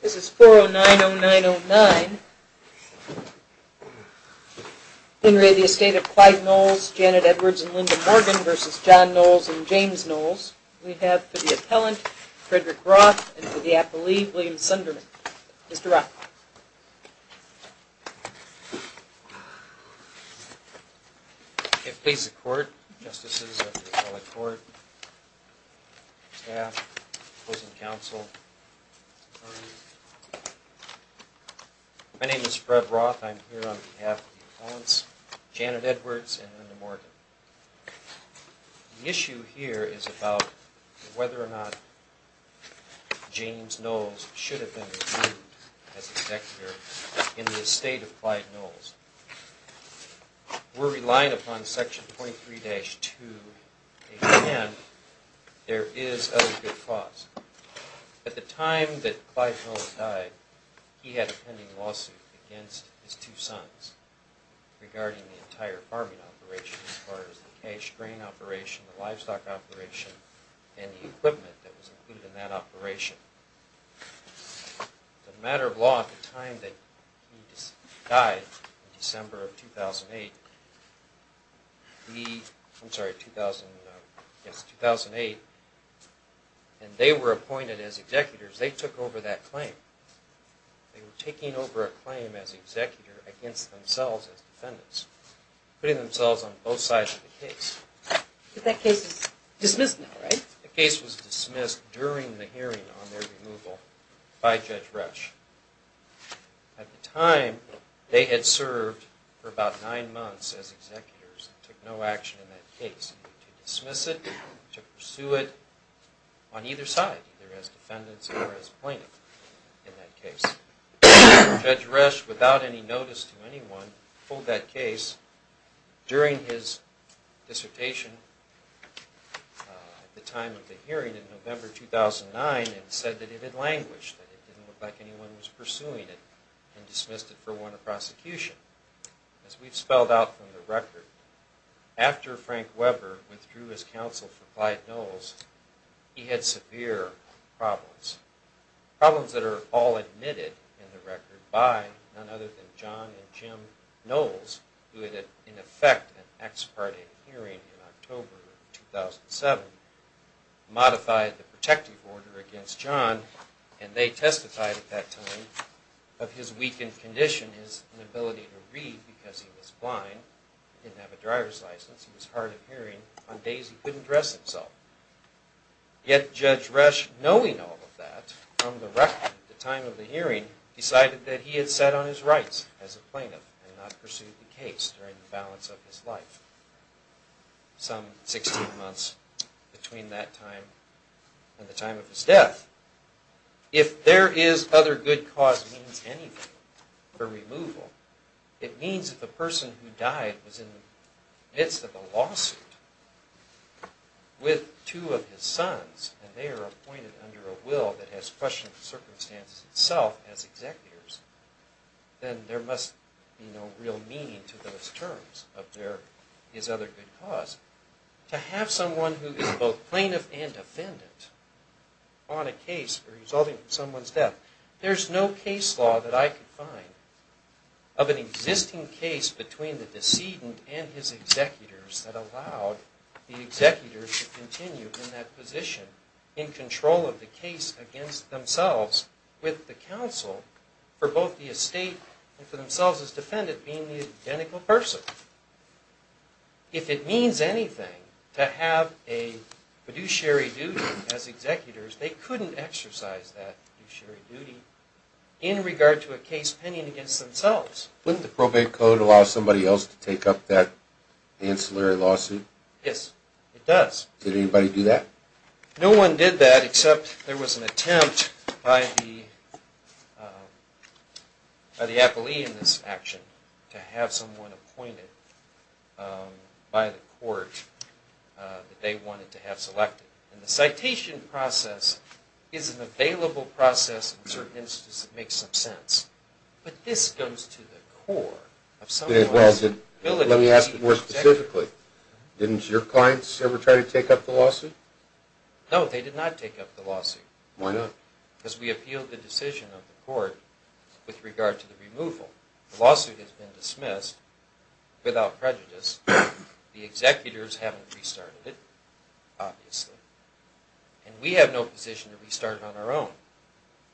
This is 4090909. In re the Estate of Clyde Knowles, Janet Edwards and Lyndon Morgan versus John Knowles and James Knowles. We have for the appellant Frederick Roth and for the appellee William Sunderman. Mr. Roth. It please the court, justices of the appellate court, staff, opposing counsel. My name is Fred Roth. I'm here on behalf of the appellants, Janet Edwards and Lyndon Morgan. The issue here is about whether or not James Knowles should have been reviewed as executor in the Estate of Clyde Knowles. We're relying upon section 23-2 and there is a good cause. At the time that Clyde Knowles died, he had a pending lawsuit against his two sons regarding the entire farming operation as far as the cash grain operation, the livestock operation and the equipment that was included in that operation. As a matter of law, at the time that he died in December of 2008, the, I'm sorry, 2008, and they were appointed as executors. They took over that claim. They were taking over a claim as executor against themselves as defendants, putting themselves on both sides of the case. But that case is dismissed now, right? The case was dismissed during the hearing on their removal by Judge Resch. At the time, they had served for about nine months as executors and took no action in that case. To dismiss it, to pursue it on either side, either as defendants or as plaintiffs in that case. Judge Resch, without any notice to anyone, pulled that case during his dissertation at the time of the hearing in November 2009 and said that it had languished, that it didn't look like anyone was pursuing it and dismissed it for warrant of prosecution. As we've spelled out from the record, after Frank Weber withdrew his counsel for Clyde Knowles, he had severe problems. Problems that are all admitted in the record by none other than John and Jim Knowles, who had in effect an ex-parte hearing in October 2007, modified the protective order against John and they testified at that time of his weakened condition, his inability to read because he was blind, he didn't have a driver's license, he was hard of hearing. On days he knowing all of that, on the record at the time of the hearing, decided that he had set on his rights as a plaintiff and not pursued the case during the balance of his life. Some 16 months between that time and the time of his death. If there is other good cause means anything for removal, it means that the person who died was in the midst of a lawsuit with two of his sons and they are appointed under a will that has questioned the circumstances itself as executors, then there must be no real meaning to those terms of their, his other good cause. To have someone who is both plaintiff and defendant on a case resulting in someone's death, there's no case law that I could find of an existing case between the decedent and his the executor to continue in that position in control of the case against themselves with the counsel for both the estate and for themselves as defendant being the identical person. If it means anything to have a fiduciary duty as executors, they couldn't exercise that fiduciary duty in regard to a case pending against themselves. Wouldn't the probate code allow somebody else to take up that ancillary lawsuit? Yes, it does. Did anybody do that? No one did that except there was an attempt by the appellee in this action to have someone appointed by the court that they wanted to have selected. And the citation process is an available process in certain instances that makes some sense. But this comes to the core of someone's ability. Let me ask you more specifically. Didn't your clients ever try to take up the lawsuit? No, they did not take up the lawsuit. Why not? Because we appealed the decision of the court with regard to the removal. The lawsuit has been dismissed without prejudice. The executors haven't restarted it, obviously. And we have no position to restart it on our own.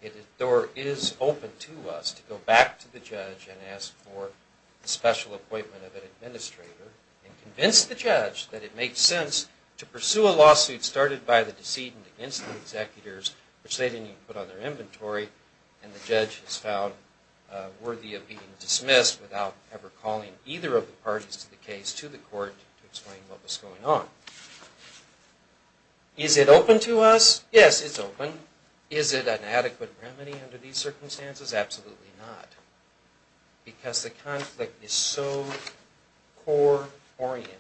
The door is open to us to go back to the judge and ask for the special appointment of an administrator and convince the judge that it makes sense to pursue a lawsuit started by the decedent against the executors, which they didn't even put on their inventory, and the judge has found worthy of being dismissed without ever calling either of the parties to the case to the court to explain what was going on. Is it open to us? Yes, it's open. Is it an adequate remedy under these circumstances? Absolutely not. Because the conflict is so core oriented,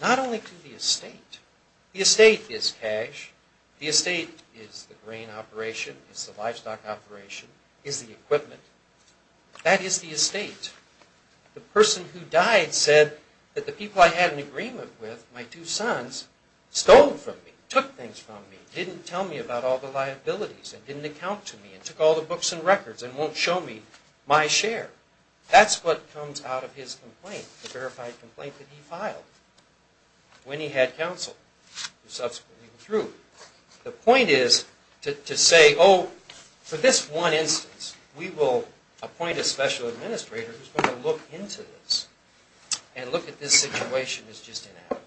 not only to the estate. The estate is cash. The estate is the grain operation, is the livestock operation, is the equipment. That is the estate. The person who died said that the people I had an agreement with, my two sons, stole from me, took things from me, didn't tell me about all the liabilities, and didn't account to me, and took all the books and records, and won't show me my share. That's what comes out of his complaint, the verified complaint that he filed when he had counsel who subsequently withdrew. The point is to say, oh, for this one instance, we will appoint a special administrator who's going to look into this and look at this situation as just inadequate.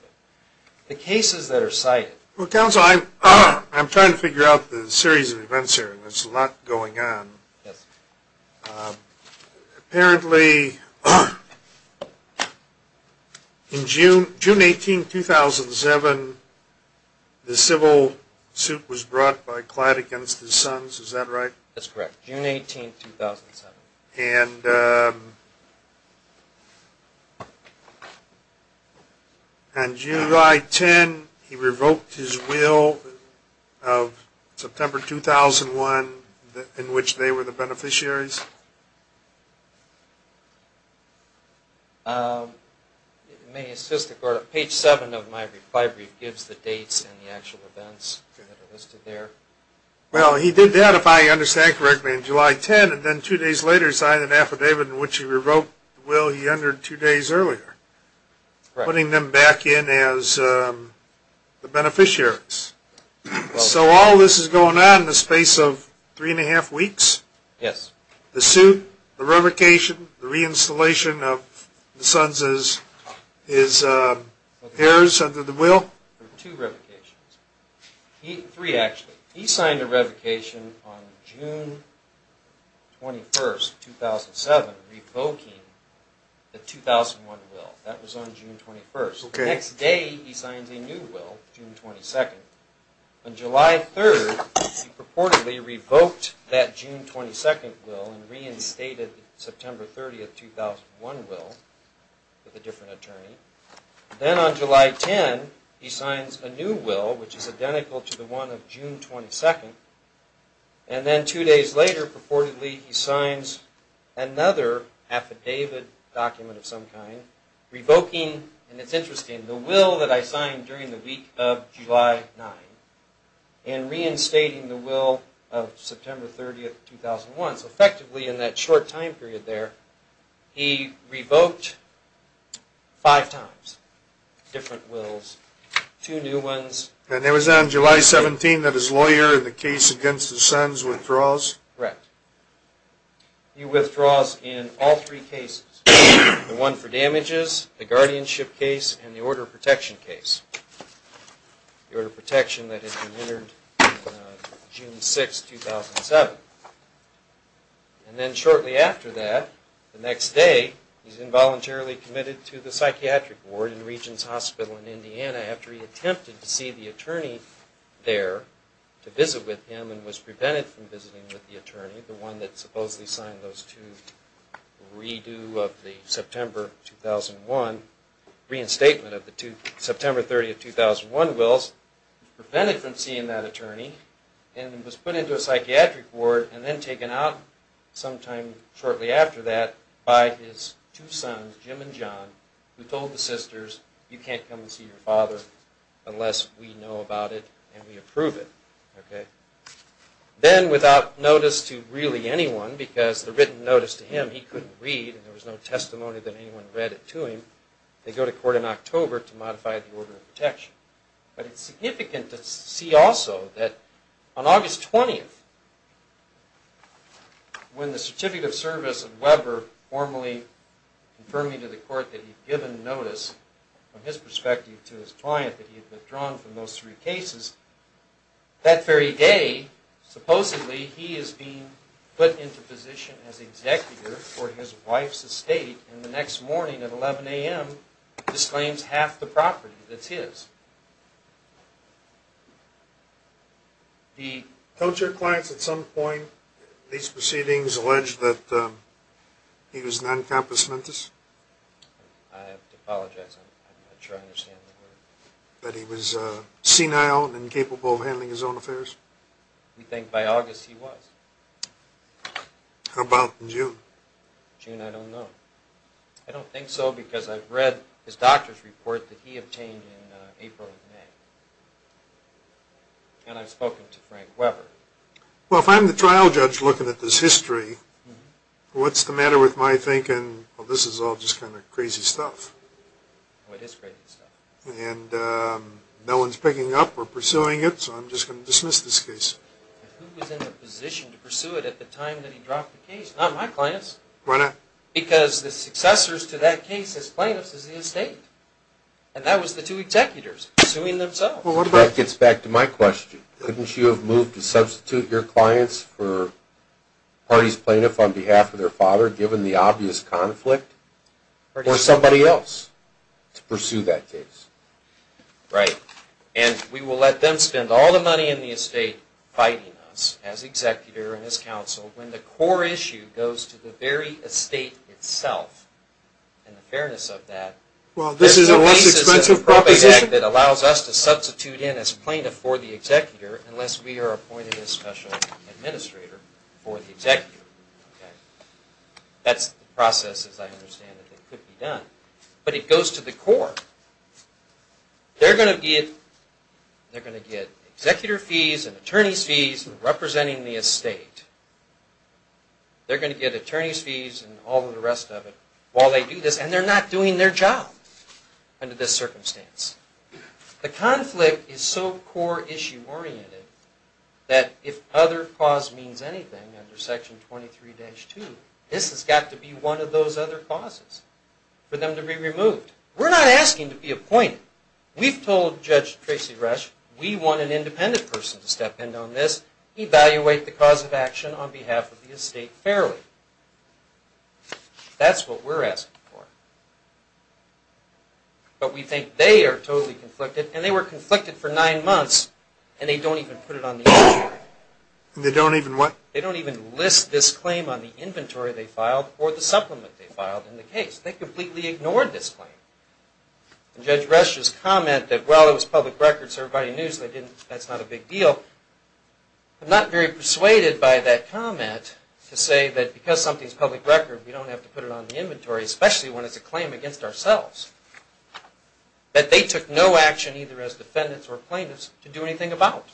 The cases that are cited... Well, counsel, I'm trying to figure out the series of events here, and there's a lot going on. Yes. Apparently, in June 18, 2007, the civil suit was brought by Clyde against his sons, is that right? That's correct. June 18, 2007. And on July 10, he revoked his will of September 2001, in which they were the beneficiaries? It may assist the court. Page 7 of my recovery gives the dates and the actual events listed there. Well, he did that, if I understand correctly, on July 10, and then two days later signed an affidavit in which he revoked the will he entered two days earlier, putting them back in as the beneficiaries. So all this is going on in the space of three and a half weeks? Yes. The suit, the revocation, the reinstallation of the sons' heirs under the will? There were two revocations. Three, actually. He signed a revocation on June 21, 2007, revoking the 2001 will. That was on June 21. The next day, he signed a new will, June 22. On July 3, he purportedly revoked that June 22 will and reinstated the September 30, 2001 will with a different attorney. Then on July 10, he signs a new will, which is identical to the one of June 22. And then two days later, purportedly, he signs another affidavit document of some kind, revoking, and it's interesting, the will that I signed during the week of July 9 and reinstating the will of September 30, 2001. So effectively, in that short time period there, he revoked five times different wills, two new ones. And it was on July 17 that his lawyer in the case the guardianship case and the order of protection case, the order of protection that had been entered June 6, 2007. And then shortly after that, the next day, he's involuntarily committed to the psychiatric ward in Regents Hospital in Indiana after he attempted to see the attorney there to visit with him and was prevented from visiting with the attorney, the one that supposedly signed those two redo of the September 2001, reinstatement of the September 30, 2001 wills, prevented from seeing that attorney, and was put into a psychiatric ward and then taken out sometime shortly after that by his two sons, Jim and John, who told the sisters, you can't come and see your father unless we know about it and we approve it. Okay. And then without notice to really anyone, because the written notice to him he couldn't read and there was no testimony that anyone read it to him, they go to court in October to modify the order of protection. But it's significant to see also that on August 20th, when the certificate of service of Weber formally confirmed to the court that he'd given notice from his perspective to his client that he had withdrawn from those three cases, that very day, supposedly, he is being put into position as executor for his wife's estate and the next morning at 11 a.m. disclaims half the property that's his. The... Don't your clients at some point in these proceedings allege that he was non-compensamentous? I have to apologize. I'm not sure I understand the word. That he was senile and incapable of handling his own affairs? We think by August he was. How about in June? June, I don't know. I don't think so because I've read his doctor's report that he obtained in April and May. And I've spoken to Frank Weber. Well, if I'm the trial judge looking at this history, what's the matter with my thinking, well, this is all just kind of crazy stuff. Oh, it is crazy stuff. And no one's picking up or pursuing it, so I'm just going to dismiss this case. Who was in the position to pursue it at the time that he dropped the case? Not my clients. Why not? Because the successors to that case as plaintiffs is the estate. And that was the two executors pursuing themselves. Well, that gets back to my question. Couldn't you have moved to substitute your clients for the party's plaintiff on behalf of their father given the obvious conflict? Or somebody else to pursue that case? Right. And we will let them spend all the money in the estate fighting us as executor and as counsel when the core issue goes to the very estate itself. And the fairness of that. Well, this is a less expensive proposition. That allows us to substitute in as plaintiff for the executor unless we are appointed as administrator for the executor. That's the process as I understand it. It could be done. But it goes to the core. They're going to get executor fees and attorney's fees representing the estate. They're going to get attorney's fees and all of the rest of it while they do this. And they're not doing their job under this circumstance. The conflict is so core issue oriented that if other cause means anything under Section 23-2, this has got to be one of those other causes for them to be removed. We're not asking to be appointed. We've told Judge Tracy Rush we want an independent person to step in on this, evaluate the cause of action on behalf of the estate fairly. That's what we're asking for. But we think they are totally conflicted and they were conflicted for nine months and they don't even put it on the inventory. And they don't even what? They don't even list this claim on the inventory they filed or the supplement they filed in the case. They completely ignored this claim. And Judge Rush's comment that, well, it was public record so everybody knew so that's not a big deal. I'm not very persuaded by that comment to say that because something's public record, that they took no action either as defendants or plaintiffs to do anything about.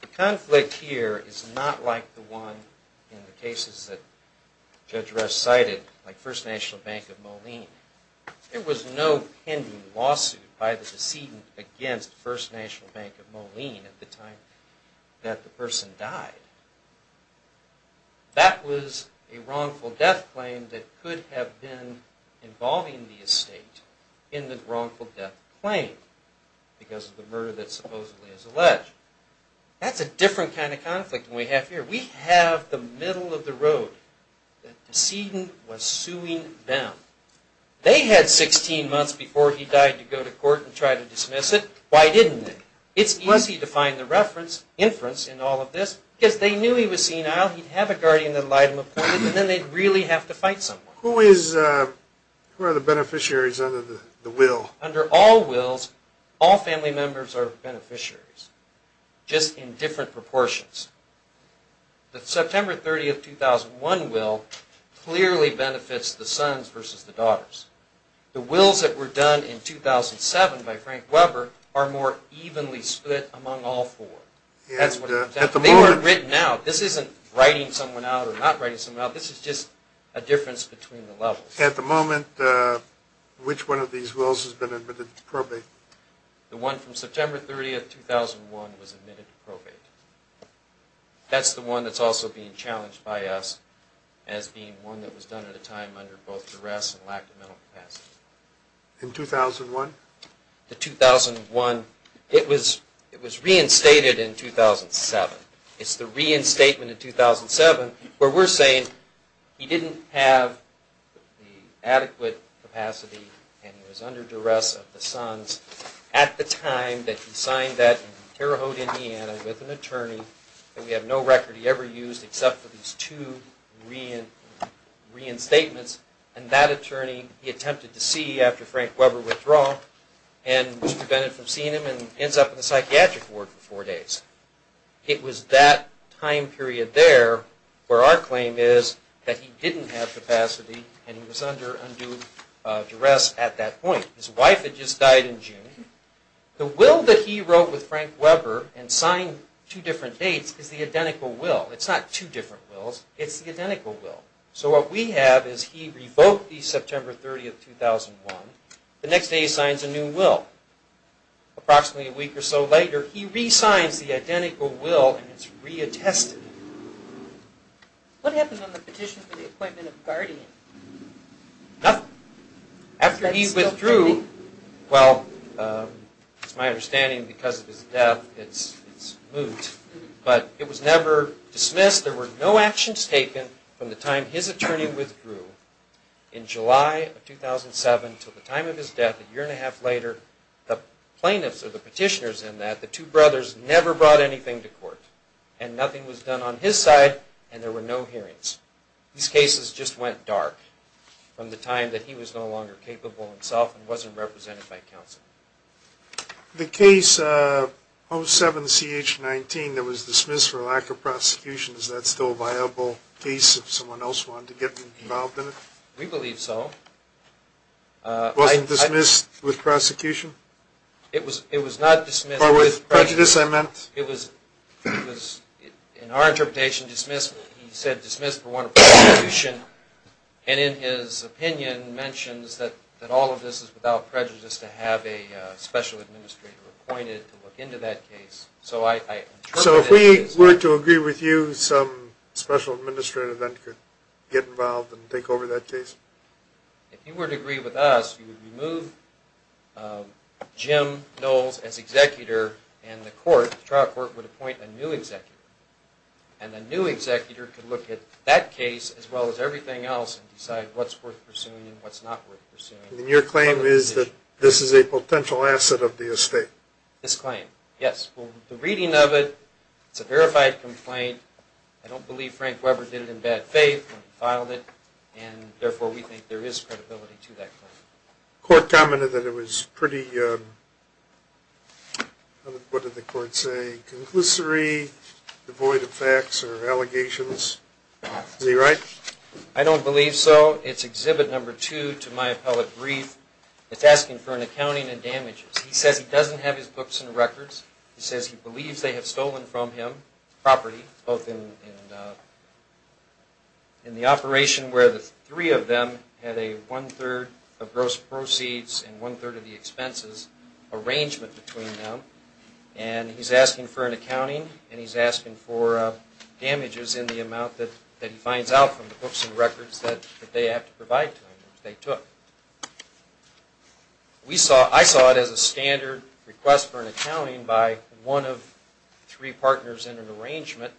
The conflict here is not like the one in the cases that Judge Rush cited, like First National Bank of Moline. There was no pending lawsuit by the decedent against First National Bank of Moline at the time that the person died. That was a wrongful death claim that could have been involving the estate in the wrongful death claim because of the murder that supposedly is alleged. That's a different kind of conflict than we have here. We have the middle of the road. The decedent was suing them. They had 16 months before he died to go to court and try to dismiss it. Why didn't they? They knew he was senile. He'd have a guardian that allied him and then they'd really have to fight someone. Who are the beneficiaries under the will? Under all wills, all family members are beneficiaries, just in different proportions. The September 30, 2001 will clearly benefits the sons versus the daughters. The wills that were done in 2007 by Frank Weber are more evenly split among all four. They weren't written out. This isn't writing someone out or not writing someone out. This is just a difference between the levels. At the moment, which one of these wills has been admitted to probate? The one from September 30, 2001 was admitted to probate. That's the one that's also being challenged by us as being one that was done at a time under both duress and lack of mental capacity. In 2001? The 2001, it was reinstated in 2007. It's the reinstatement in 2007 where we're saying he didn't have the adequate capacity and he was under duress of the sons at the time that he signed that in Terre Haute, Indiana with an attorney that we have no record he ever used except for these two reinstatements. And that attorney, he attempted to see after Frank Weber withdraw and was prevented from seeing him and ends up in the psychiatric ward for four days. It was that time period there where our claim is that he didn't have capacity and he was under undue duress at that point. His wife had just died in June. The will that he wrote with Frank Weber and signed two different dates is the identical will. It's not two different wills. It's the identical will. So what we have is he revoked the September 30, 2001. The next day he signs a new will. Approximately a week or so later, he re-signs the identical will and it's reattested. What happened on the petition for the appointment of guardian? Nothing. After he withdrew, well, it's my understanding because of his death, it's moot, but it was never dismissed. There were no actions taken from the time his attorney withdrew in July of 2007 until the time of his death a year and a half later. The plaintiffs or the petitioners in that, the two brothers, never brought anything to court. And nothing was done on his side and there were no hearings. These cases just went dark from the time that he was no longer capable himself and wasn't represented by counsel. The case 07-CH-19 that was dismissed for lack of prosecution, is that still a viable case if someone else wanted to get involved in it? We believe so. Wasn't dismissed with prosecution? It was not dismissed with prejudice. In our interpretation, dismissed, he said dismissed for lack of prosecution. And in his opinion, mentions that all of this is without prejudice to have a special administrator appointed to look into that case. So if we were to agree with you, some special administrator then could get involved and take over that case? If you were to agree with us, you would remove Jim Knowles as executor and the trial court would appoint a new executor. And a new executor could look at that case as well as everything else and decide what's worth pursuing and what's not worth pursuing. And your claim is that this is a potential asset of the estate? This claim, yes. Well, the reading of it, it's a verified complaint. I don't believe Frank Weber did it in bad faith when he filed it and therefore we think there is credibility to that claim. Court commented that it was pretty, what did the court say, conclusory, devoid of facts or allegations. Is he right? I don't believe so. It's exhibit number two to my appellate brief. It's asking for an accounting and damages. He says he doesn't have his books and records. He says he believes they have stolen from him property, both in the operation where three of them had a one-third of gross proceeds and one-third of the expenses arrangement between them. And he's asking for an accounting and he's asking for damages in the amount that he finds out from the books and records that they have to provide to him, which they took. I saw it as a standard request for an accounting by one of three partners in an arrangement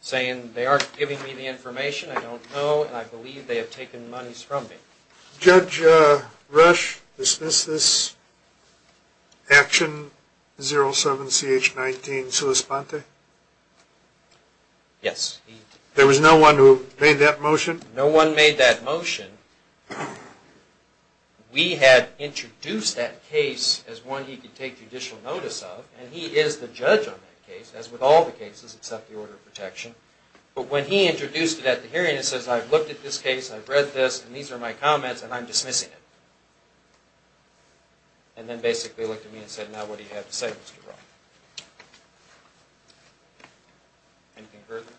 saying they aren't giving me the information, I don't know, and I believe they have taken monies from me. Judge Rush, is this this Action 07-CH-19-Suis Ponte? Yes. There was no one who made that motion? No one made that motion. We had introduced that case as one he could take judicial notice of, and he is the judge on that case, as with all the cases except the order of protection. But when he introduced it at the hearing, he says, I've looked at this case, I've read this, and these are my comments, and I'm dismissing it. And then basically looked at me and said, now what do you have to say, Mr. Roth? Anything further?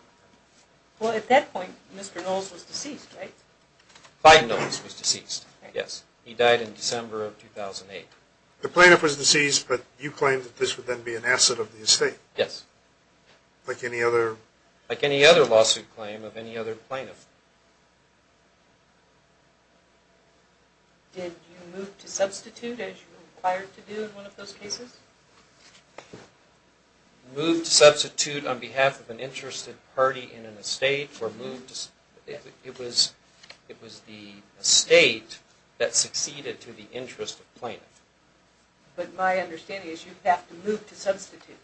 Well, at that point, Mr. Knowles was deceased, right? Biden Knowles was deceased, yes. He died in December of 2008. The plaintiff was deceased, but you claimed that this would then be an asset of the estate? Yes. Like any other? Like any other lawsuit claim of any other plaintiff. Did you move to substitute, as you were required to do in one of those cases? Move to substitute on behalf of an interested party in an estate, or move to... It was the estate that succeeded to the interest of plaintiff. But my understanding is you have to move to substitute.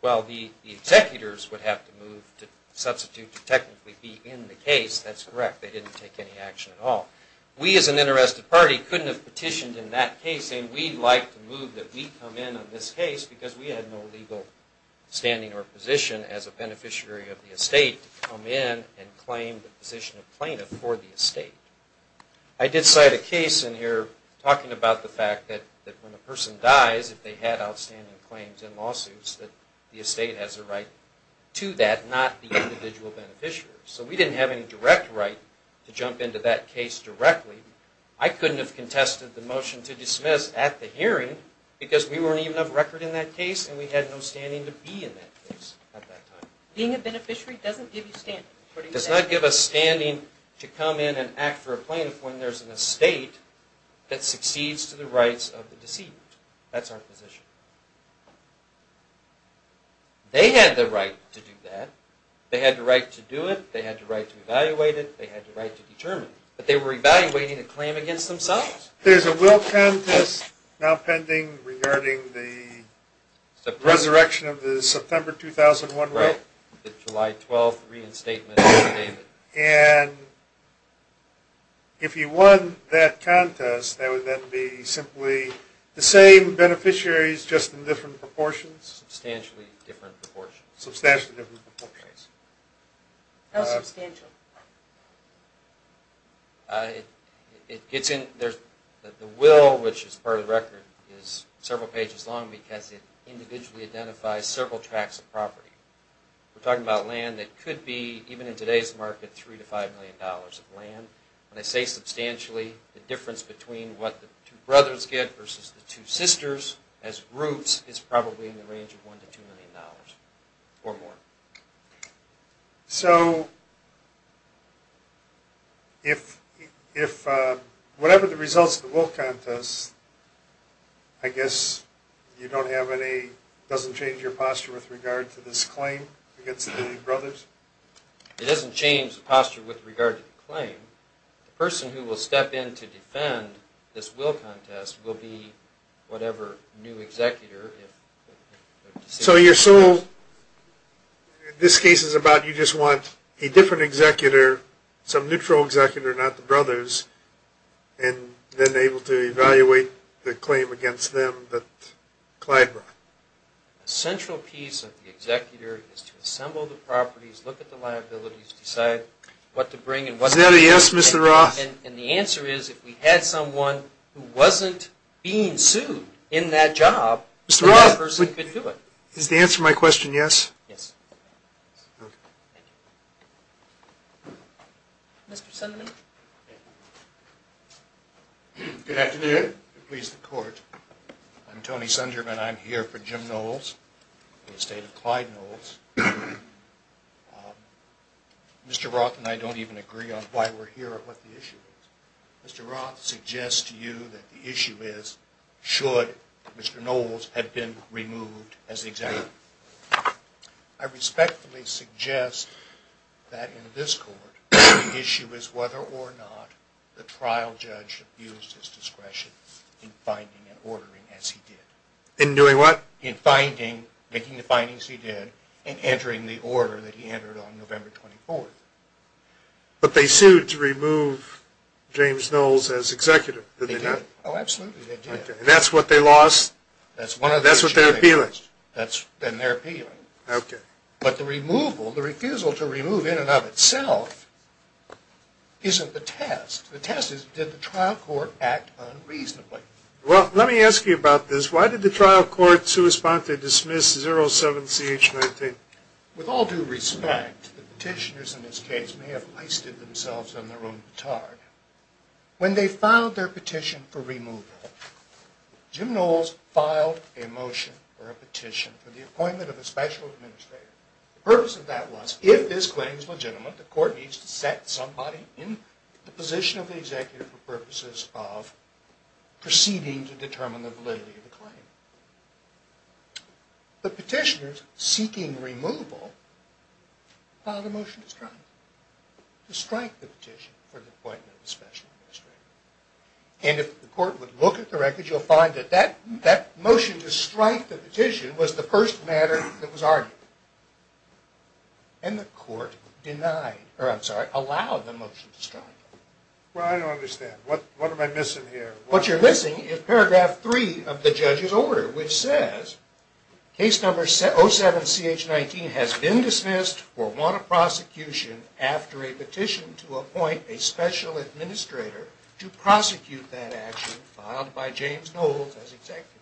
Well, the executors would have to move to substitute to technically be in the case. That's correct. They didn't take any action at all. We, as an interested party, couldn't have petitioned in that case, and we'd like to move that we come in on this case because we had no legal standing or position as a beneficiary of the estate to come in and claim the position of plaintiff for the estate. I did cite a case in here talking about the fact that when a person dies, if they had outstanding claims in lawsuits, that the estate has a right to that, not the individual beneficiary. So we didn't have any direct right to jump into that case directly. I couldn't have contested the motion to dismiss at the hearing because we weren't even of record in that case, and we had no standing to be in that case at that time. Being a beneficiary doesn't give you standing. Does not give us standing to come in and act for a plaintiff when there's an estate that succeeds to the rights of the deceived. That's our position. They had the right to do that. They had the right to do it. They had the right to evaluate it. They had the right to determine it. But they were evaluating a claim against themselves. There's a will contest now pending regarding the resurrection of the September 2001 will. Right. The July 12 reinstatement of David. And if you won that contest, that would then be simply the same beneficiaries, just in different proportions? Substantially different proportions. Substantially different proportions. How substantial? The will, which is part of the record, is several pages long because it individually identifies several tracts of property. We're talking about land that could be, even in today's market, $3 to $5 million of land. When I say substantially, the difference between what the two brothers get versus the two sisters as groups is probably in the range of $1 to $2 million or more. So if whatever the results of the will contest, I guess you don't have any, doesn't change your posture with regard to this claim against the brothers? It doesn't change the posture with regard to the claim. The person who will step in to defend this will contest will be whatever new executor. So you're so, this case is about you just want a different executor, some neutral executor, not the brothers, and then able to evaluate the claim against them that Clyde brought. The central piece of the executor is to assemble the properties, look at the liabilities, decide what to bring and what not. Is that a yes, Mr. Roth? And the answer is if we had someone who wasn't being sued in that job, that person could do it. Does that answer my question, yes? Yes. Mr. Sunderman? Good afternoon. Please, the court. I'm Tony Sunderman. I'm here for Jim Knowles, the estate of Clyde Knowles. Mr. Roth and I don't even agree on why we're here or what the issue is. Mr. Roth suggests to you that the issue is should Mr. Knowles have been removed as the executor. I respectfully suggest that in this court the issue is whether or not the trial judge abused his discretion in finding and ordering as he did. In doing what? In finding, making the findings he did, and entering the order that he entered on November 24th. But they sued to remove James Knowles as executive, did they not? Oh, absolutely, they did. And that's what they lost? That's one of the issues. That's what they're appealing? That's been their appealing. Okay. But the removal, the refusal to remove in and of itself isn't the test. The test is, did the trial court act unreasonably? Well, let me ask you about this. Why did the trial court sui sponte dismiss 07-CH-19? With all due respect, the petitioners in this case may have wasted themselves on their own batard. When they filed their petition for removal, Jim Knowles filed a motion, or a petition, for the appointment of a special administrator. The purpose of that was, if this claim is legitimate, the court needs to set somebody in the position of the executive for purposes of proceeding to determine the validity of the claim. The petitioners seeking removal filed a motion to strike, to strike the petition for the appointment of a special administrator. And if the court would look at the records, you'll find that that motion to strike the petition was the first matter that was argued. And the court denied, or I'm sorry, allowed the motion to strike. Well, I don't understand. What am I missing here? What you're missing is paragraph three of the judge's order, which says, case number 07-CH-19 has been dismissed for want of prosecution after a petition to appoint a special administrator to prosecute that action filed by James Knowles as executive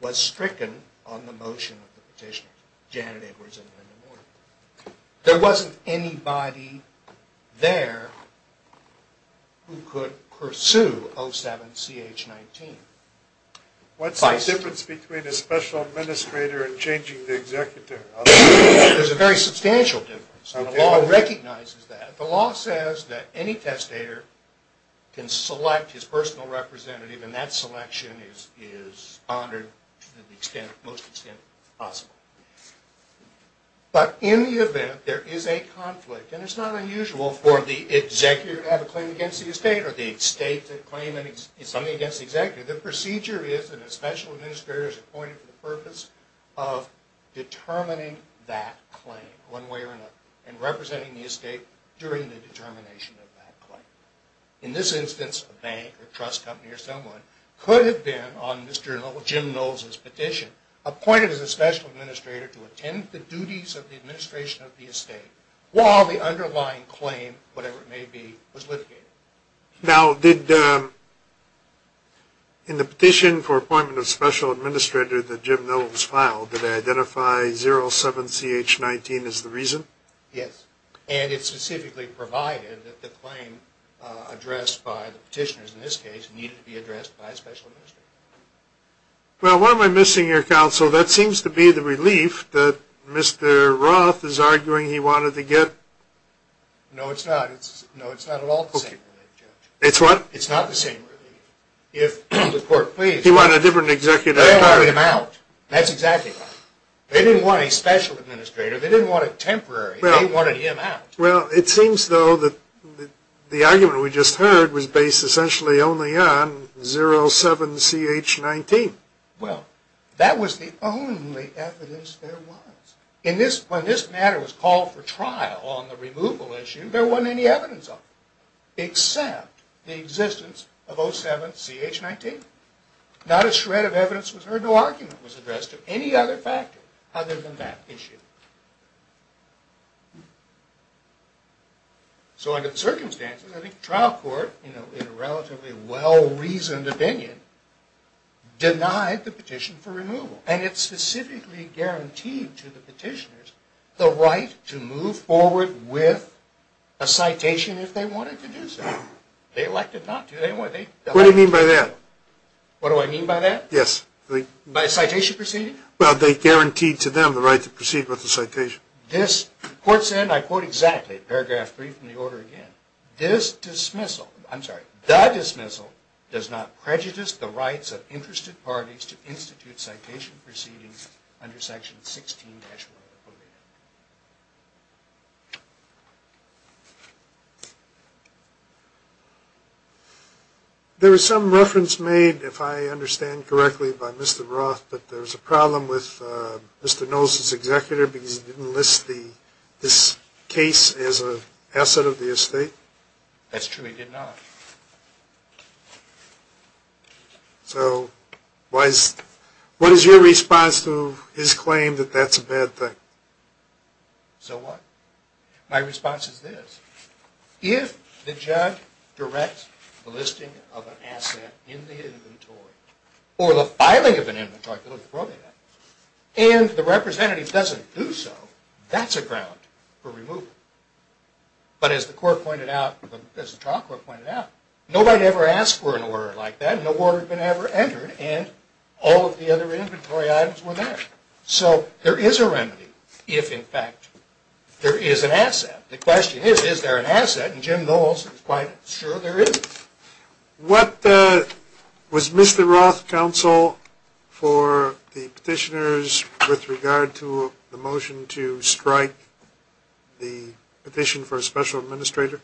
was stricken on the motion of the petitioner. Janet Edwards and Linda Morton. There wasn't anybody there who could pursue 07-CH-19. What's the difference between a special administrator and changing the executive? There's a very substantial difference, and the law recognizes that. The law says that any testator can select his personal representative, and that selection is honored to the most extent possible. But in the event there is a conflict, and it's not unusual for the executive to have a claim against the estate or the estate to claim something against the executive, the procedure is that a special administrator is appointed for the purpose of determining that claim, one way or another, and representing the estate during the determination of that claim. In this instance, a bank or trust company or someone could have been, on Mr. Jim Knowles' petition, appointed as a special administrator to attend the duties of the administration of the estate while the underlying claim, whatever it may be, was litigated. Now, did in the petition for appointment of special administrator that Jim Knowles filed, did they identify 07-CH-19 as the reason? Yes, and it specifically provided that the claim addressed by the petitioners in this case needed to be addressed by a special administrator. Well, what am I missing here, counsel? That seems to be the relief that Mr. Roth is arguing he wanted to get. No, it's not. No, it's not at all the same relief, Judge. It's what? It's not the same relief. If the court pleases. He wanted a different executive. They wanted him out. That's exactly right. They didn't want a special administrator. They didn't want a temporary. They wanted him out. Well, it seems, though, that the argument we just heard was based essentially only on 07-CH-19. Well, that was the only evidence there was. When this matter was called for trial on the removal issue, there wasn't any evidence on it except the existence of 07-CH-19. Not a shred of evidence was heard. No argument was addressed of any other factor other than that issue. So under the circumstances, I think the trial court, in a relatively well-reasoned opinion, denied the petition for removal. And it specifically guaranteed to the petitioners the right to move forward with a citation if they wanted to do so. They elected not to. They elected not to. What do you mean by that? What do I mean by that? Yes. By a citation proceeding? Well, they guaranteed to them the right to proceed with the citation. This court said, and I quote exactly, paragraph 3 from the order again, this dismissal, I'm sorry, the dismissal does not prejudice the rights of interested parties to institute citation proceedings under section 16-1 of the code of ethics. There was some reference made, if I understand correctly, by Mr. Roth that there was a problem with Mr. Knowles' executor because he didn't list this case as an asset of the estate? That's true. He did not. So what is your response to his claim that that's a bad thing? So what? My response is this. If the judge directs the listing of an asset in the inventory or the filing of an inventory, and the representative doesn't do so, that's a ground for removal. But as the trial court pointed out, nobody ever asked for an order like that, no order had been ever entered, and all of the other inventory items were there. So there is a remedy if, in fact, there is an asset. The question is, is there an asset? And Jim Knowles is quite sure there is. What was Mr. Roth's counsel for the petitioners with regard to the motion to strike the petition for a special administrator?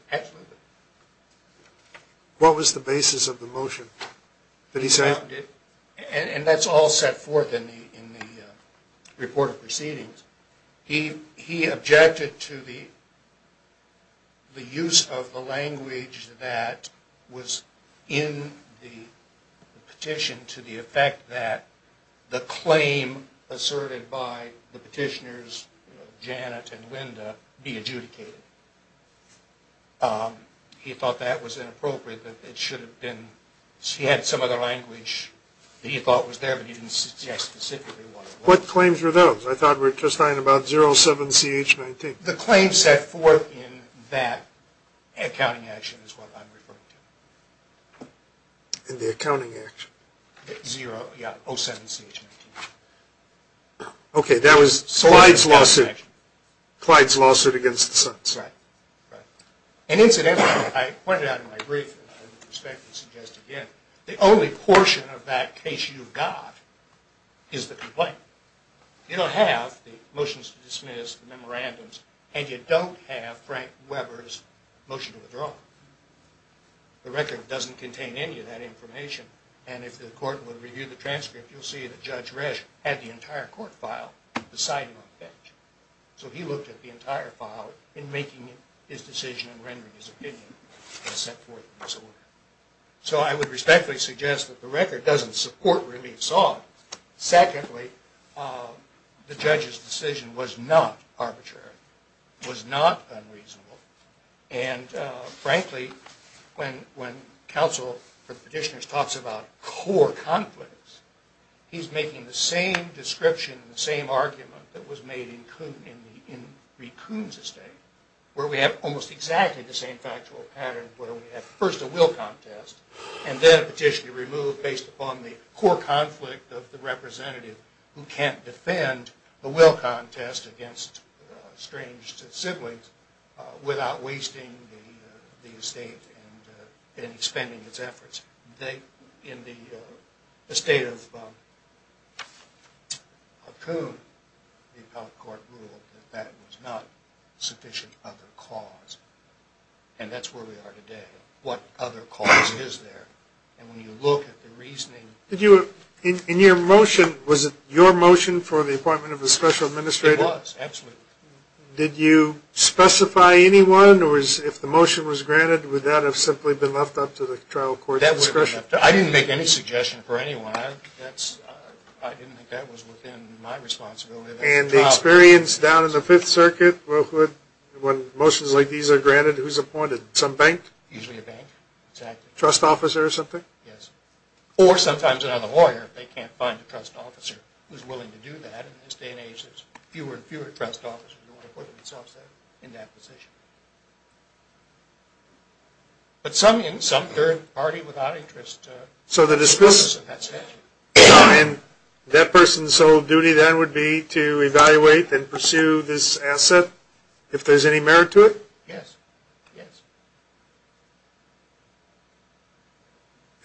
What was the basis of the motion? And that's all set forth in the report of proceedings. He objected to the use of the language that was in the petition to the effect that the claim asserted by the petitioners, Janet and Linda, be adjudicated. He thought that was inappropriate, that it should have been, he had some other language that he thought was there, but he didn't suggest specifically what. What claims were those? I thought we were just talking about 07-CH-19. The claim set forth in that accounting action is what I'm referring to. In the accounting action? Zero, yeah, 07-CH-19. Okay, that was Clyde's lawsuit. Clyde's lawsuit against the Sunset. Right, right. And incidentally, I pointed out in my brief, and I respectfully suggest again, the only portion of that case you've got is the complaint. You don't have the motions to dismiss, the memorandums, and you don't have Frank Weber's motion to withdraw. The record doesn't contain any of that information, and if the court would review the transcript, you'll see that Judge Resch had the entire court file beside him on the bench. So he looked at the entire file in making his decision and rendering his opinion that was set forth in this order. So I would respectfully suggest that the record doesn't support relief sought. Secondly, the judge's decision was not arbitrary, was not unreasonable. And frankly, when counsel for petitioners talks about core conflicts, he's making the same description and the same argument that was made in Kuhn's estate, where we have almost exactly the same factual pattern where we have first a will contest, and then a petition to remove based upon the core conflict of the representative who can't defend the will contest against strange siblings without wasting the estate and expending its efforts. They, in the estate of Kuhn, the appellate court ruled that that was not sufficient other cause, and that's where we are today. What other cause is there? And when you look at the reasoning... Did you, in your motion, was it your motion for the appointment of a special administrator? It was, absolutely. Did you specify anyone, or if the motion was granted, would that have simply been left up to the trial court's discretion? I didn't make any suggestion for anyone. I didn't think that was within my responsibility. And the experience down in the Fifth Circuit, when motions like these are granted, who's appointed? Some bank? Usually a bank, exactly. Trust officer or something? Yes, or sometimes another lawyer, if they can't find a trust officer who's willing to do that. In this day and age, there's fewer and fewer trust officers who want to put themselves in that position. But some, in some third party without interest... So the discrepancy... And that person's sole duty then would be to evaluate and pursue this asset if there's any merit to it? Yes, yes.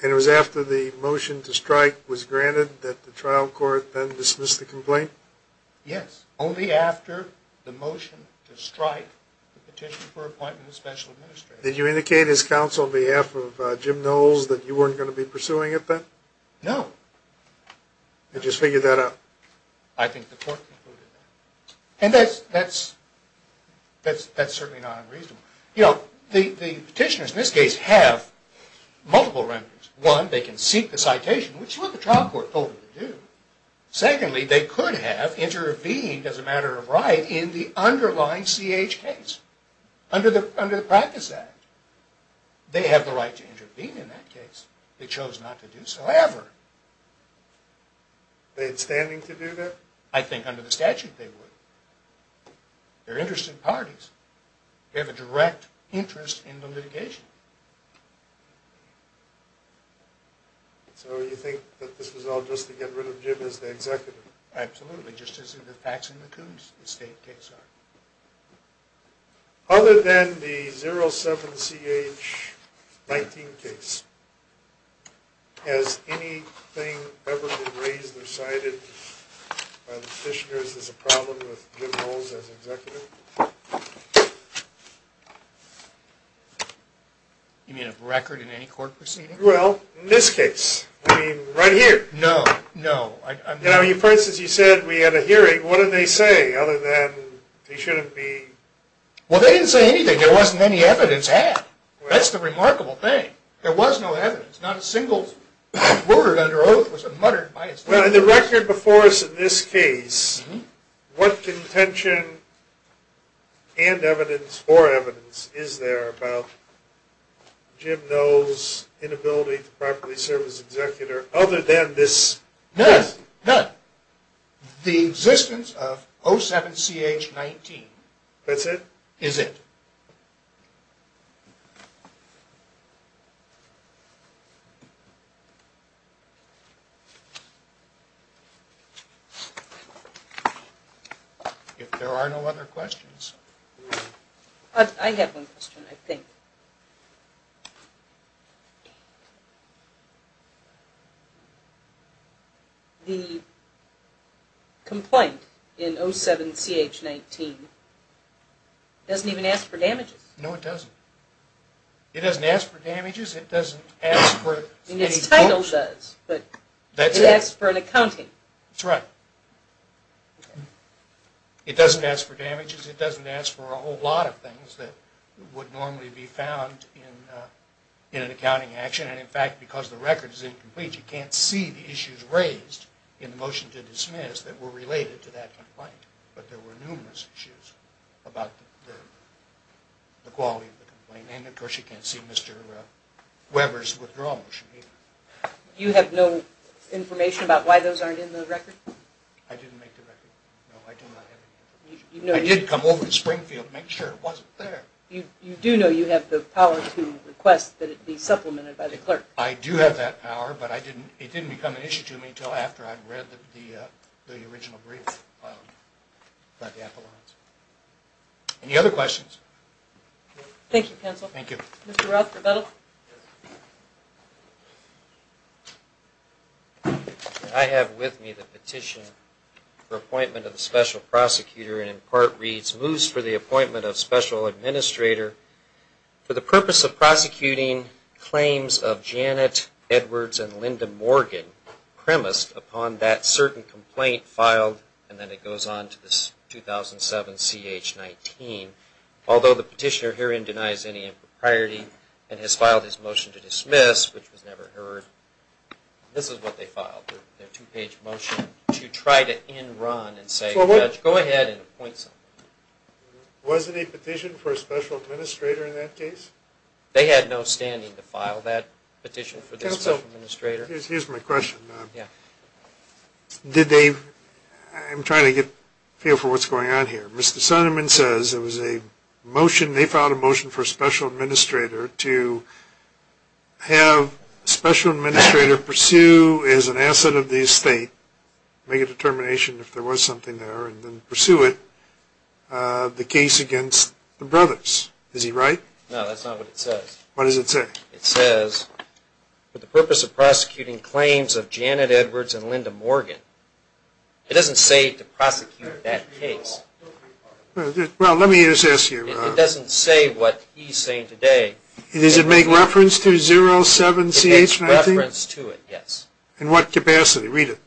And it was after the motion to strike was granted that the trial court then dismissed the complaint? Yes, only after the motion to strike the petition for appointment of a special administrator. Did you indicate as counsel on behalf of Jim Knowles that you weren't going to be pursuing it then? No. You just figured that out? I think the court concluded that. And that's certainly not unreasonable. You know, the petitioners in this case have multiple remedies. One, they can seek the citation, which is what the trial court told them to do. Secondly, they could have intervened as a matter of right in the underlying CH case under the Practice Act. They have the right to intervene in that case. They chose not to do so ever. They had standing to do that? I think under the statute they would. They're interested parties. They have a direct interest in the litigation. So you think that this was all just to get rid of Jim as the executive? Absolutely, just as the Paxson-McCoons estate case are. Other than the 07-CH-19 case, has anything ever been raised or cited by the petitioners as a problem with Jim Knowles as executive? You mean a record in any court proceeding? Well, in this case, right here. No, no. For instance, you said we had a hearing. What did they say other than they shouldn't be? Well, they didn't say anything. There wasn't any evidence had. That's the remarkable thing. Not a single word under oath was muttered by the petitioners. The record before us in this case, what contention and evidence or evidence is there about Jim Knowles' inability to properly serve as executor other than this? None, none. The existence of 07-CH-19. That's it? Is it. If there are no other questions. I have one question, I think. The complaint in 07-CH-19 doesn't even ask for damages. No, it doesn't. It doesn't ask for damages. It doesn't ask for any... But it asks for an accounting. That's right. It doesn't ask for damages. It doesn't ask for a whole lot of things that would normally be found in an accounting action. And in fact, because the record is incomplete, you can't see the issues raised in the motion to dismiss that were related to that complaint. But there were numerous issues about the quality of the complaint. And of course, you can't see Mr. Weber's withdrawal motion either. You have no information about why those aren't in the record? I didn't make the record. No, I do not have any information. I did come over to Springfield to make sure it wasn't there. You do know you have the power to request that it be supplemented by the clerk? I do have that power, but it didn't become an issue to me until after I'd read the original brief about the appellants. Any other questions? Thank you, counsel. Thank you. Mr. Ralph Trevettel? I have with me the petition for appointment of the special prosecutor, and in part reads, Moose for the appointment of special administrator for the purpose of prosecuting claims of Janet Edwards and Linda Morgan premised upon that certain complaint filed, and then it goes on to this 2007 CH-19. Although the petitioner herein denies any impropriety and has filed his motion to dismiss, which was never heard, this is what they filed, their two-page motion to try to end run and say, go ahead and appoint someone. Was it a petition for a special administrator in that case? They had no standing to file that petition for this special administrator. Here's my question. I'm trying to get a feel for what's going on here. Mr. Sonnenman says it was a motion, they filed a motion for a special administrator to have a special administrator pursue as an asset of the estate, make a determination if there was something there, and then pursue it, the case against the brothers. Is he right? No, that's not what it says. What does it say? It says, for the purpose of prosecuting claims of Janet Edwards and Linda Morgan, it doesn't say to prosecute that case. Well, let me just ask you. It doesn't say what he's saying today. Does it make reference to 07-CH-19? It makes reference to it, yes. In what capacity? Read it.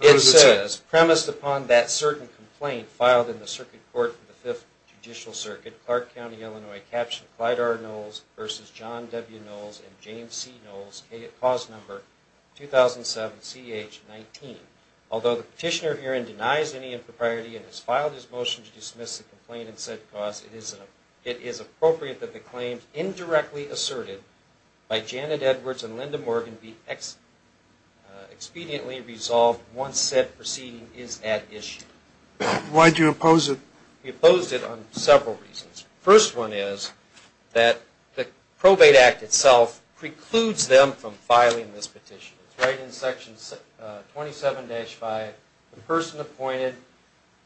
It says, premised upon that certain complaint filed in the circuit court for the Fifth Judicial Circuit, Clark County, Illinois, Capt. Clyde R. Knowles v. John W. Knowles and James C. Knowles, cause number 2007-CH-19. Although the petitioner herein denies any impropriety and has filed his motion to dismiss the complaint and said cause, it is appropriate that the claims indirectly asserted by Janet Edwards and Linda Morgan be expediently resolved once said proceeding is at issue. Why do you oppose it? We opposed it on several reasons. First one is that the Probate Act itself precludes them from filing this petition. It's right in section 27-5. The person appointed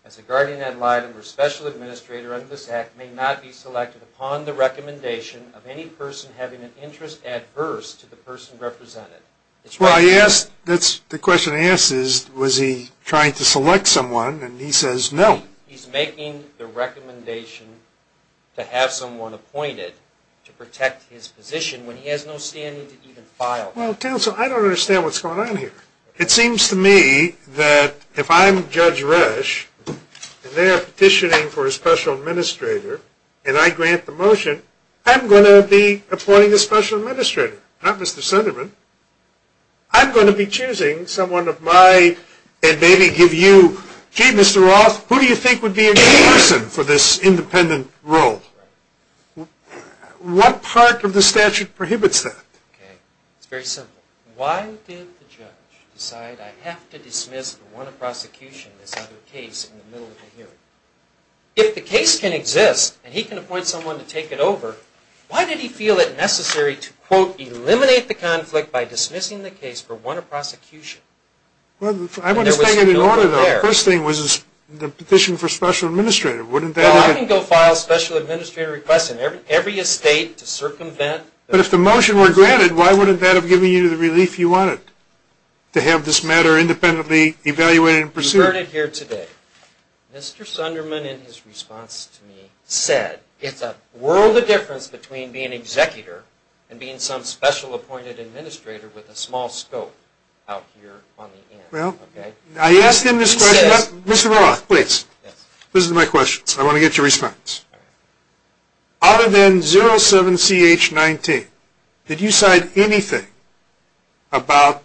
as a guardian ad litem or special administrator under this act may not be selected upon the recommendation of any person having an interest adverse to the person represented. The question I ask is, was he trying to select someone? And he says no. He's making the recommendation to have someone appointed to protect his position when he has no standing to even file. Well counsel, I don't understand what's going on here. It seems to me that if I'm Judge Resch and they're petitioning for a special administrator and I grant the motion, I'm going to be appointing a special administrator, not Mr. Sunderman. I'm going to be choosing someone of my, and maybe give you, gee Mr. Roth, who do you think would be a good person for this independent role? What part of the statute prohibits that? It's very simple. Why did the judge decide I have to dismiss for want of prosecution this other case in the middle of the hearing? If the case can exist and he can appoint someone to take it over, why did he feel it necessary to, quote, eliminate the conflict by dismissing the case for want of prosecution? I understand it in order, though. The first thing was the petition for special administrator. Wouldn't that have been- I can go file a special administrator request in every estate to circumvent- If the motion were granted, why wouldn't that have given you the relief you wanted to have this matter independently evaluated and pursued? You heard it here today. Mr. Sunderman, in his response to me, said it's a world of difference between being an executor and being some special appointed administrator with a small scope out here on the end. Well, I asked him this question- Mr. Roth, please. This is my question. I want to get your response. Out of N07CH19, did you cite anything about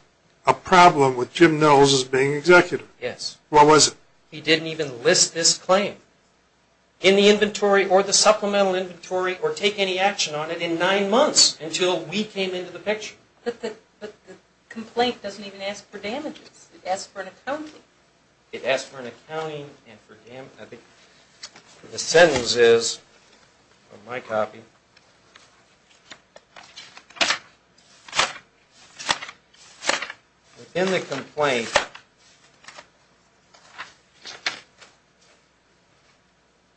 a problem with Jim Knowles as being an executor? Yes. What was it? He didn't even list this claim in the inventory or the supplemental inventory or take any action on it in nine months until we came into the picture. But the complaint doesn't even ask for damages. It asked for an accounting. It asked for an accounting and for damages. I think the sentence is, from my copy, within the complaint,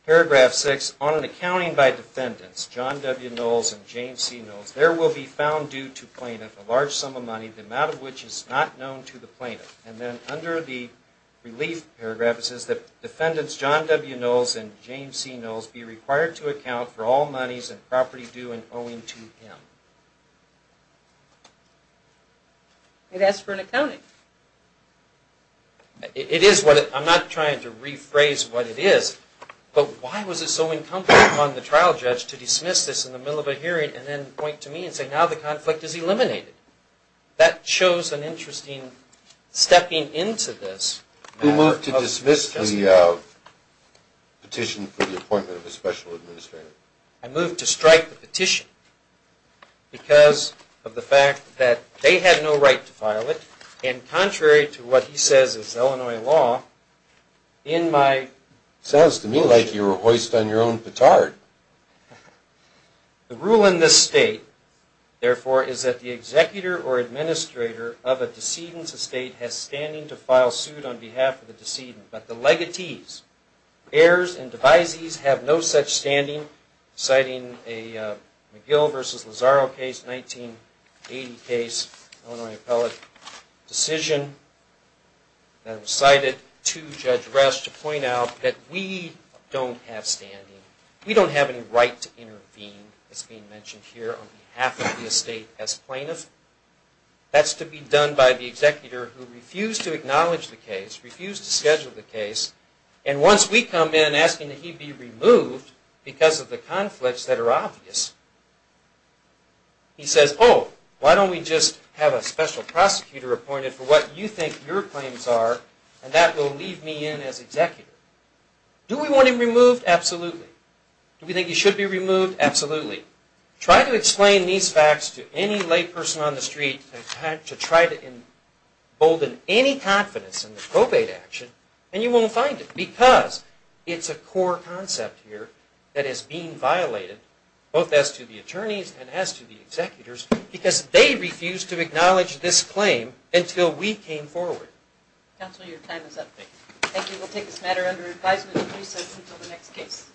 paragraph six, on an accounting by defendants, John W. Knowles and James C. Knowles, there will be found due to plaintiff a large sum of money, the amount of which is not known to the plaintiff. And then under the relief paragraph, it says that defendants John W. Knowles and James C. Knowles be required to account for all monies and property due and owing to him. It asked for an accounting. I'm not trying to rephrase what it is, but why was it so uncomfortable upon the trial judge to dismiss this in the middle of a hearing and then point to me and say, now the conflict is eliminated? That shows an interesting stepping into this. Who moved to dismiss the petition for the appointment of a special administrator? I moved to strike the petition because of the fact that they had no right to file it and contrary to what he says is Illinois law, in my... Sounds to me like you were hoist on your own petard. The rule in this state, therefore, is that the executor or administrator of a decedent estate has standing to file suit on behalf of the decedent. But the legatees, heirs, and devisees have no such standing, citing a McGill versus Lozaro case, 1980 case, Illinois appellate decision that was cited to Judge Rest to point out that we don't have standing. We don't have any right to intervene as being mentioned here on behalf of the estate as plaintiff. That's to be done by the executor who refused to acknowledge the case, refused to schedule the case, and once we come in asking that he be removed because of the conflicts that are obvious, he says, oh, why don't we just have a special prosecutor appointed for what you think your claims are and that will leave me in as executor. Do we want him removed? Absolutely. Do we think he should be removed? Absolutely. Try to explain these facts to any lay person on the street to try to embolden any confidence in the probate action and you won't find it because it's a core concept here that is being violated, both as to the attorneys and as to the executors, because they refused to acknowledge this claim until we came forward. Counselor, your time is up. Thank you. We'll take this matter under advisement until the next case.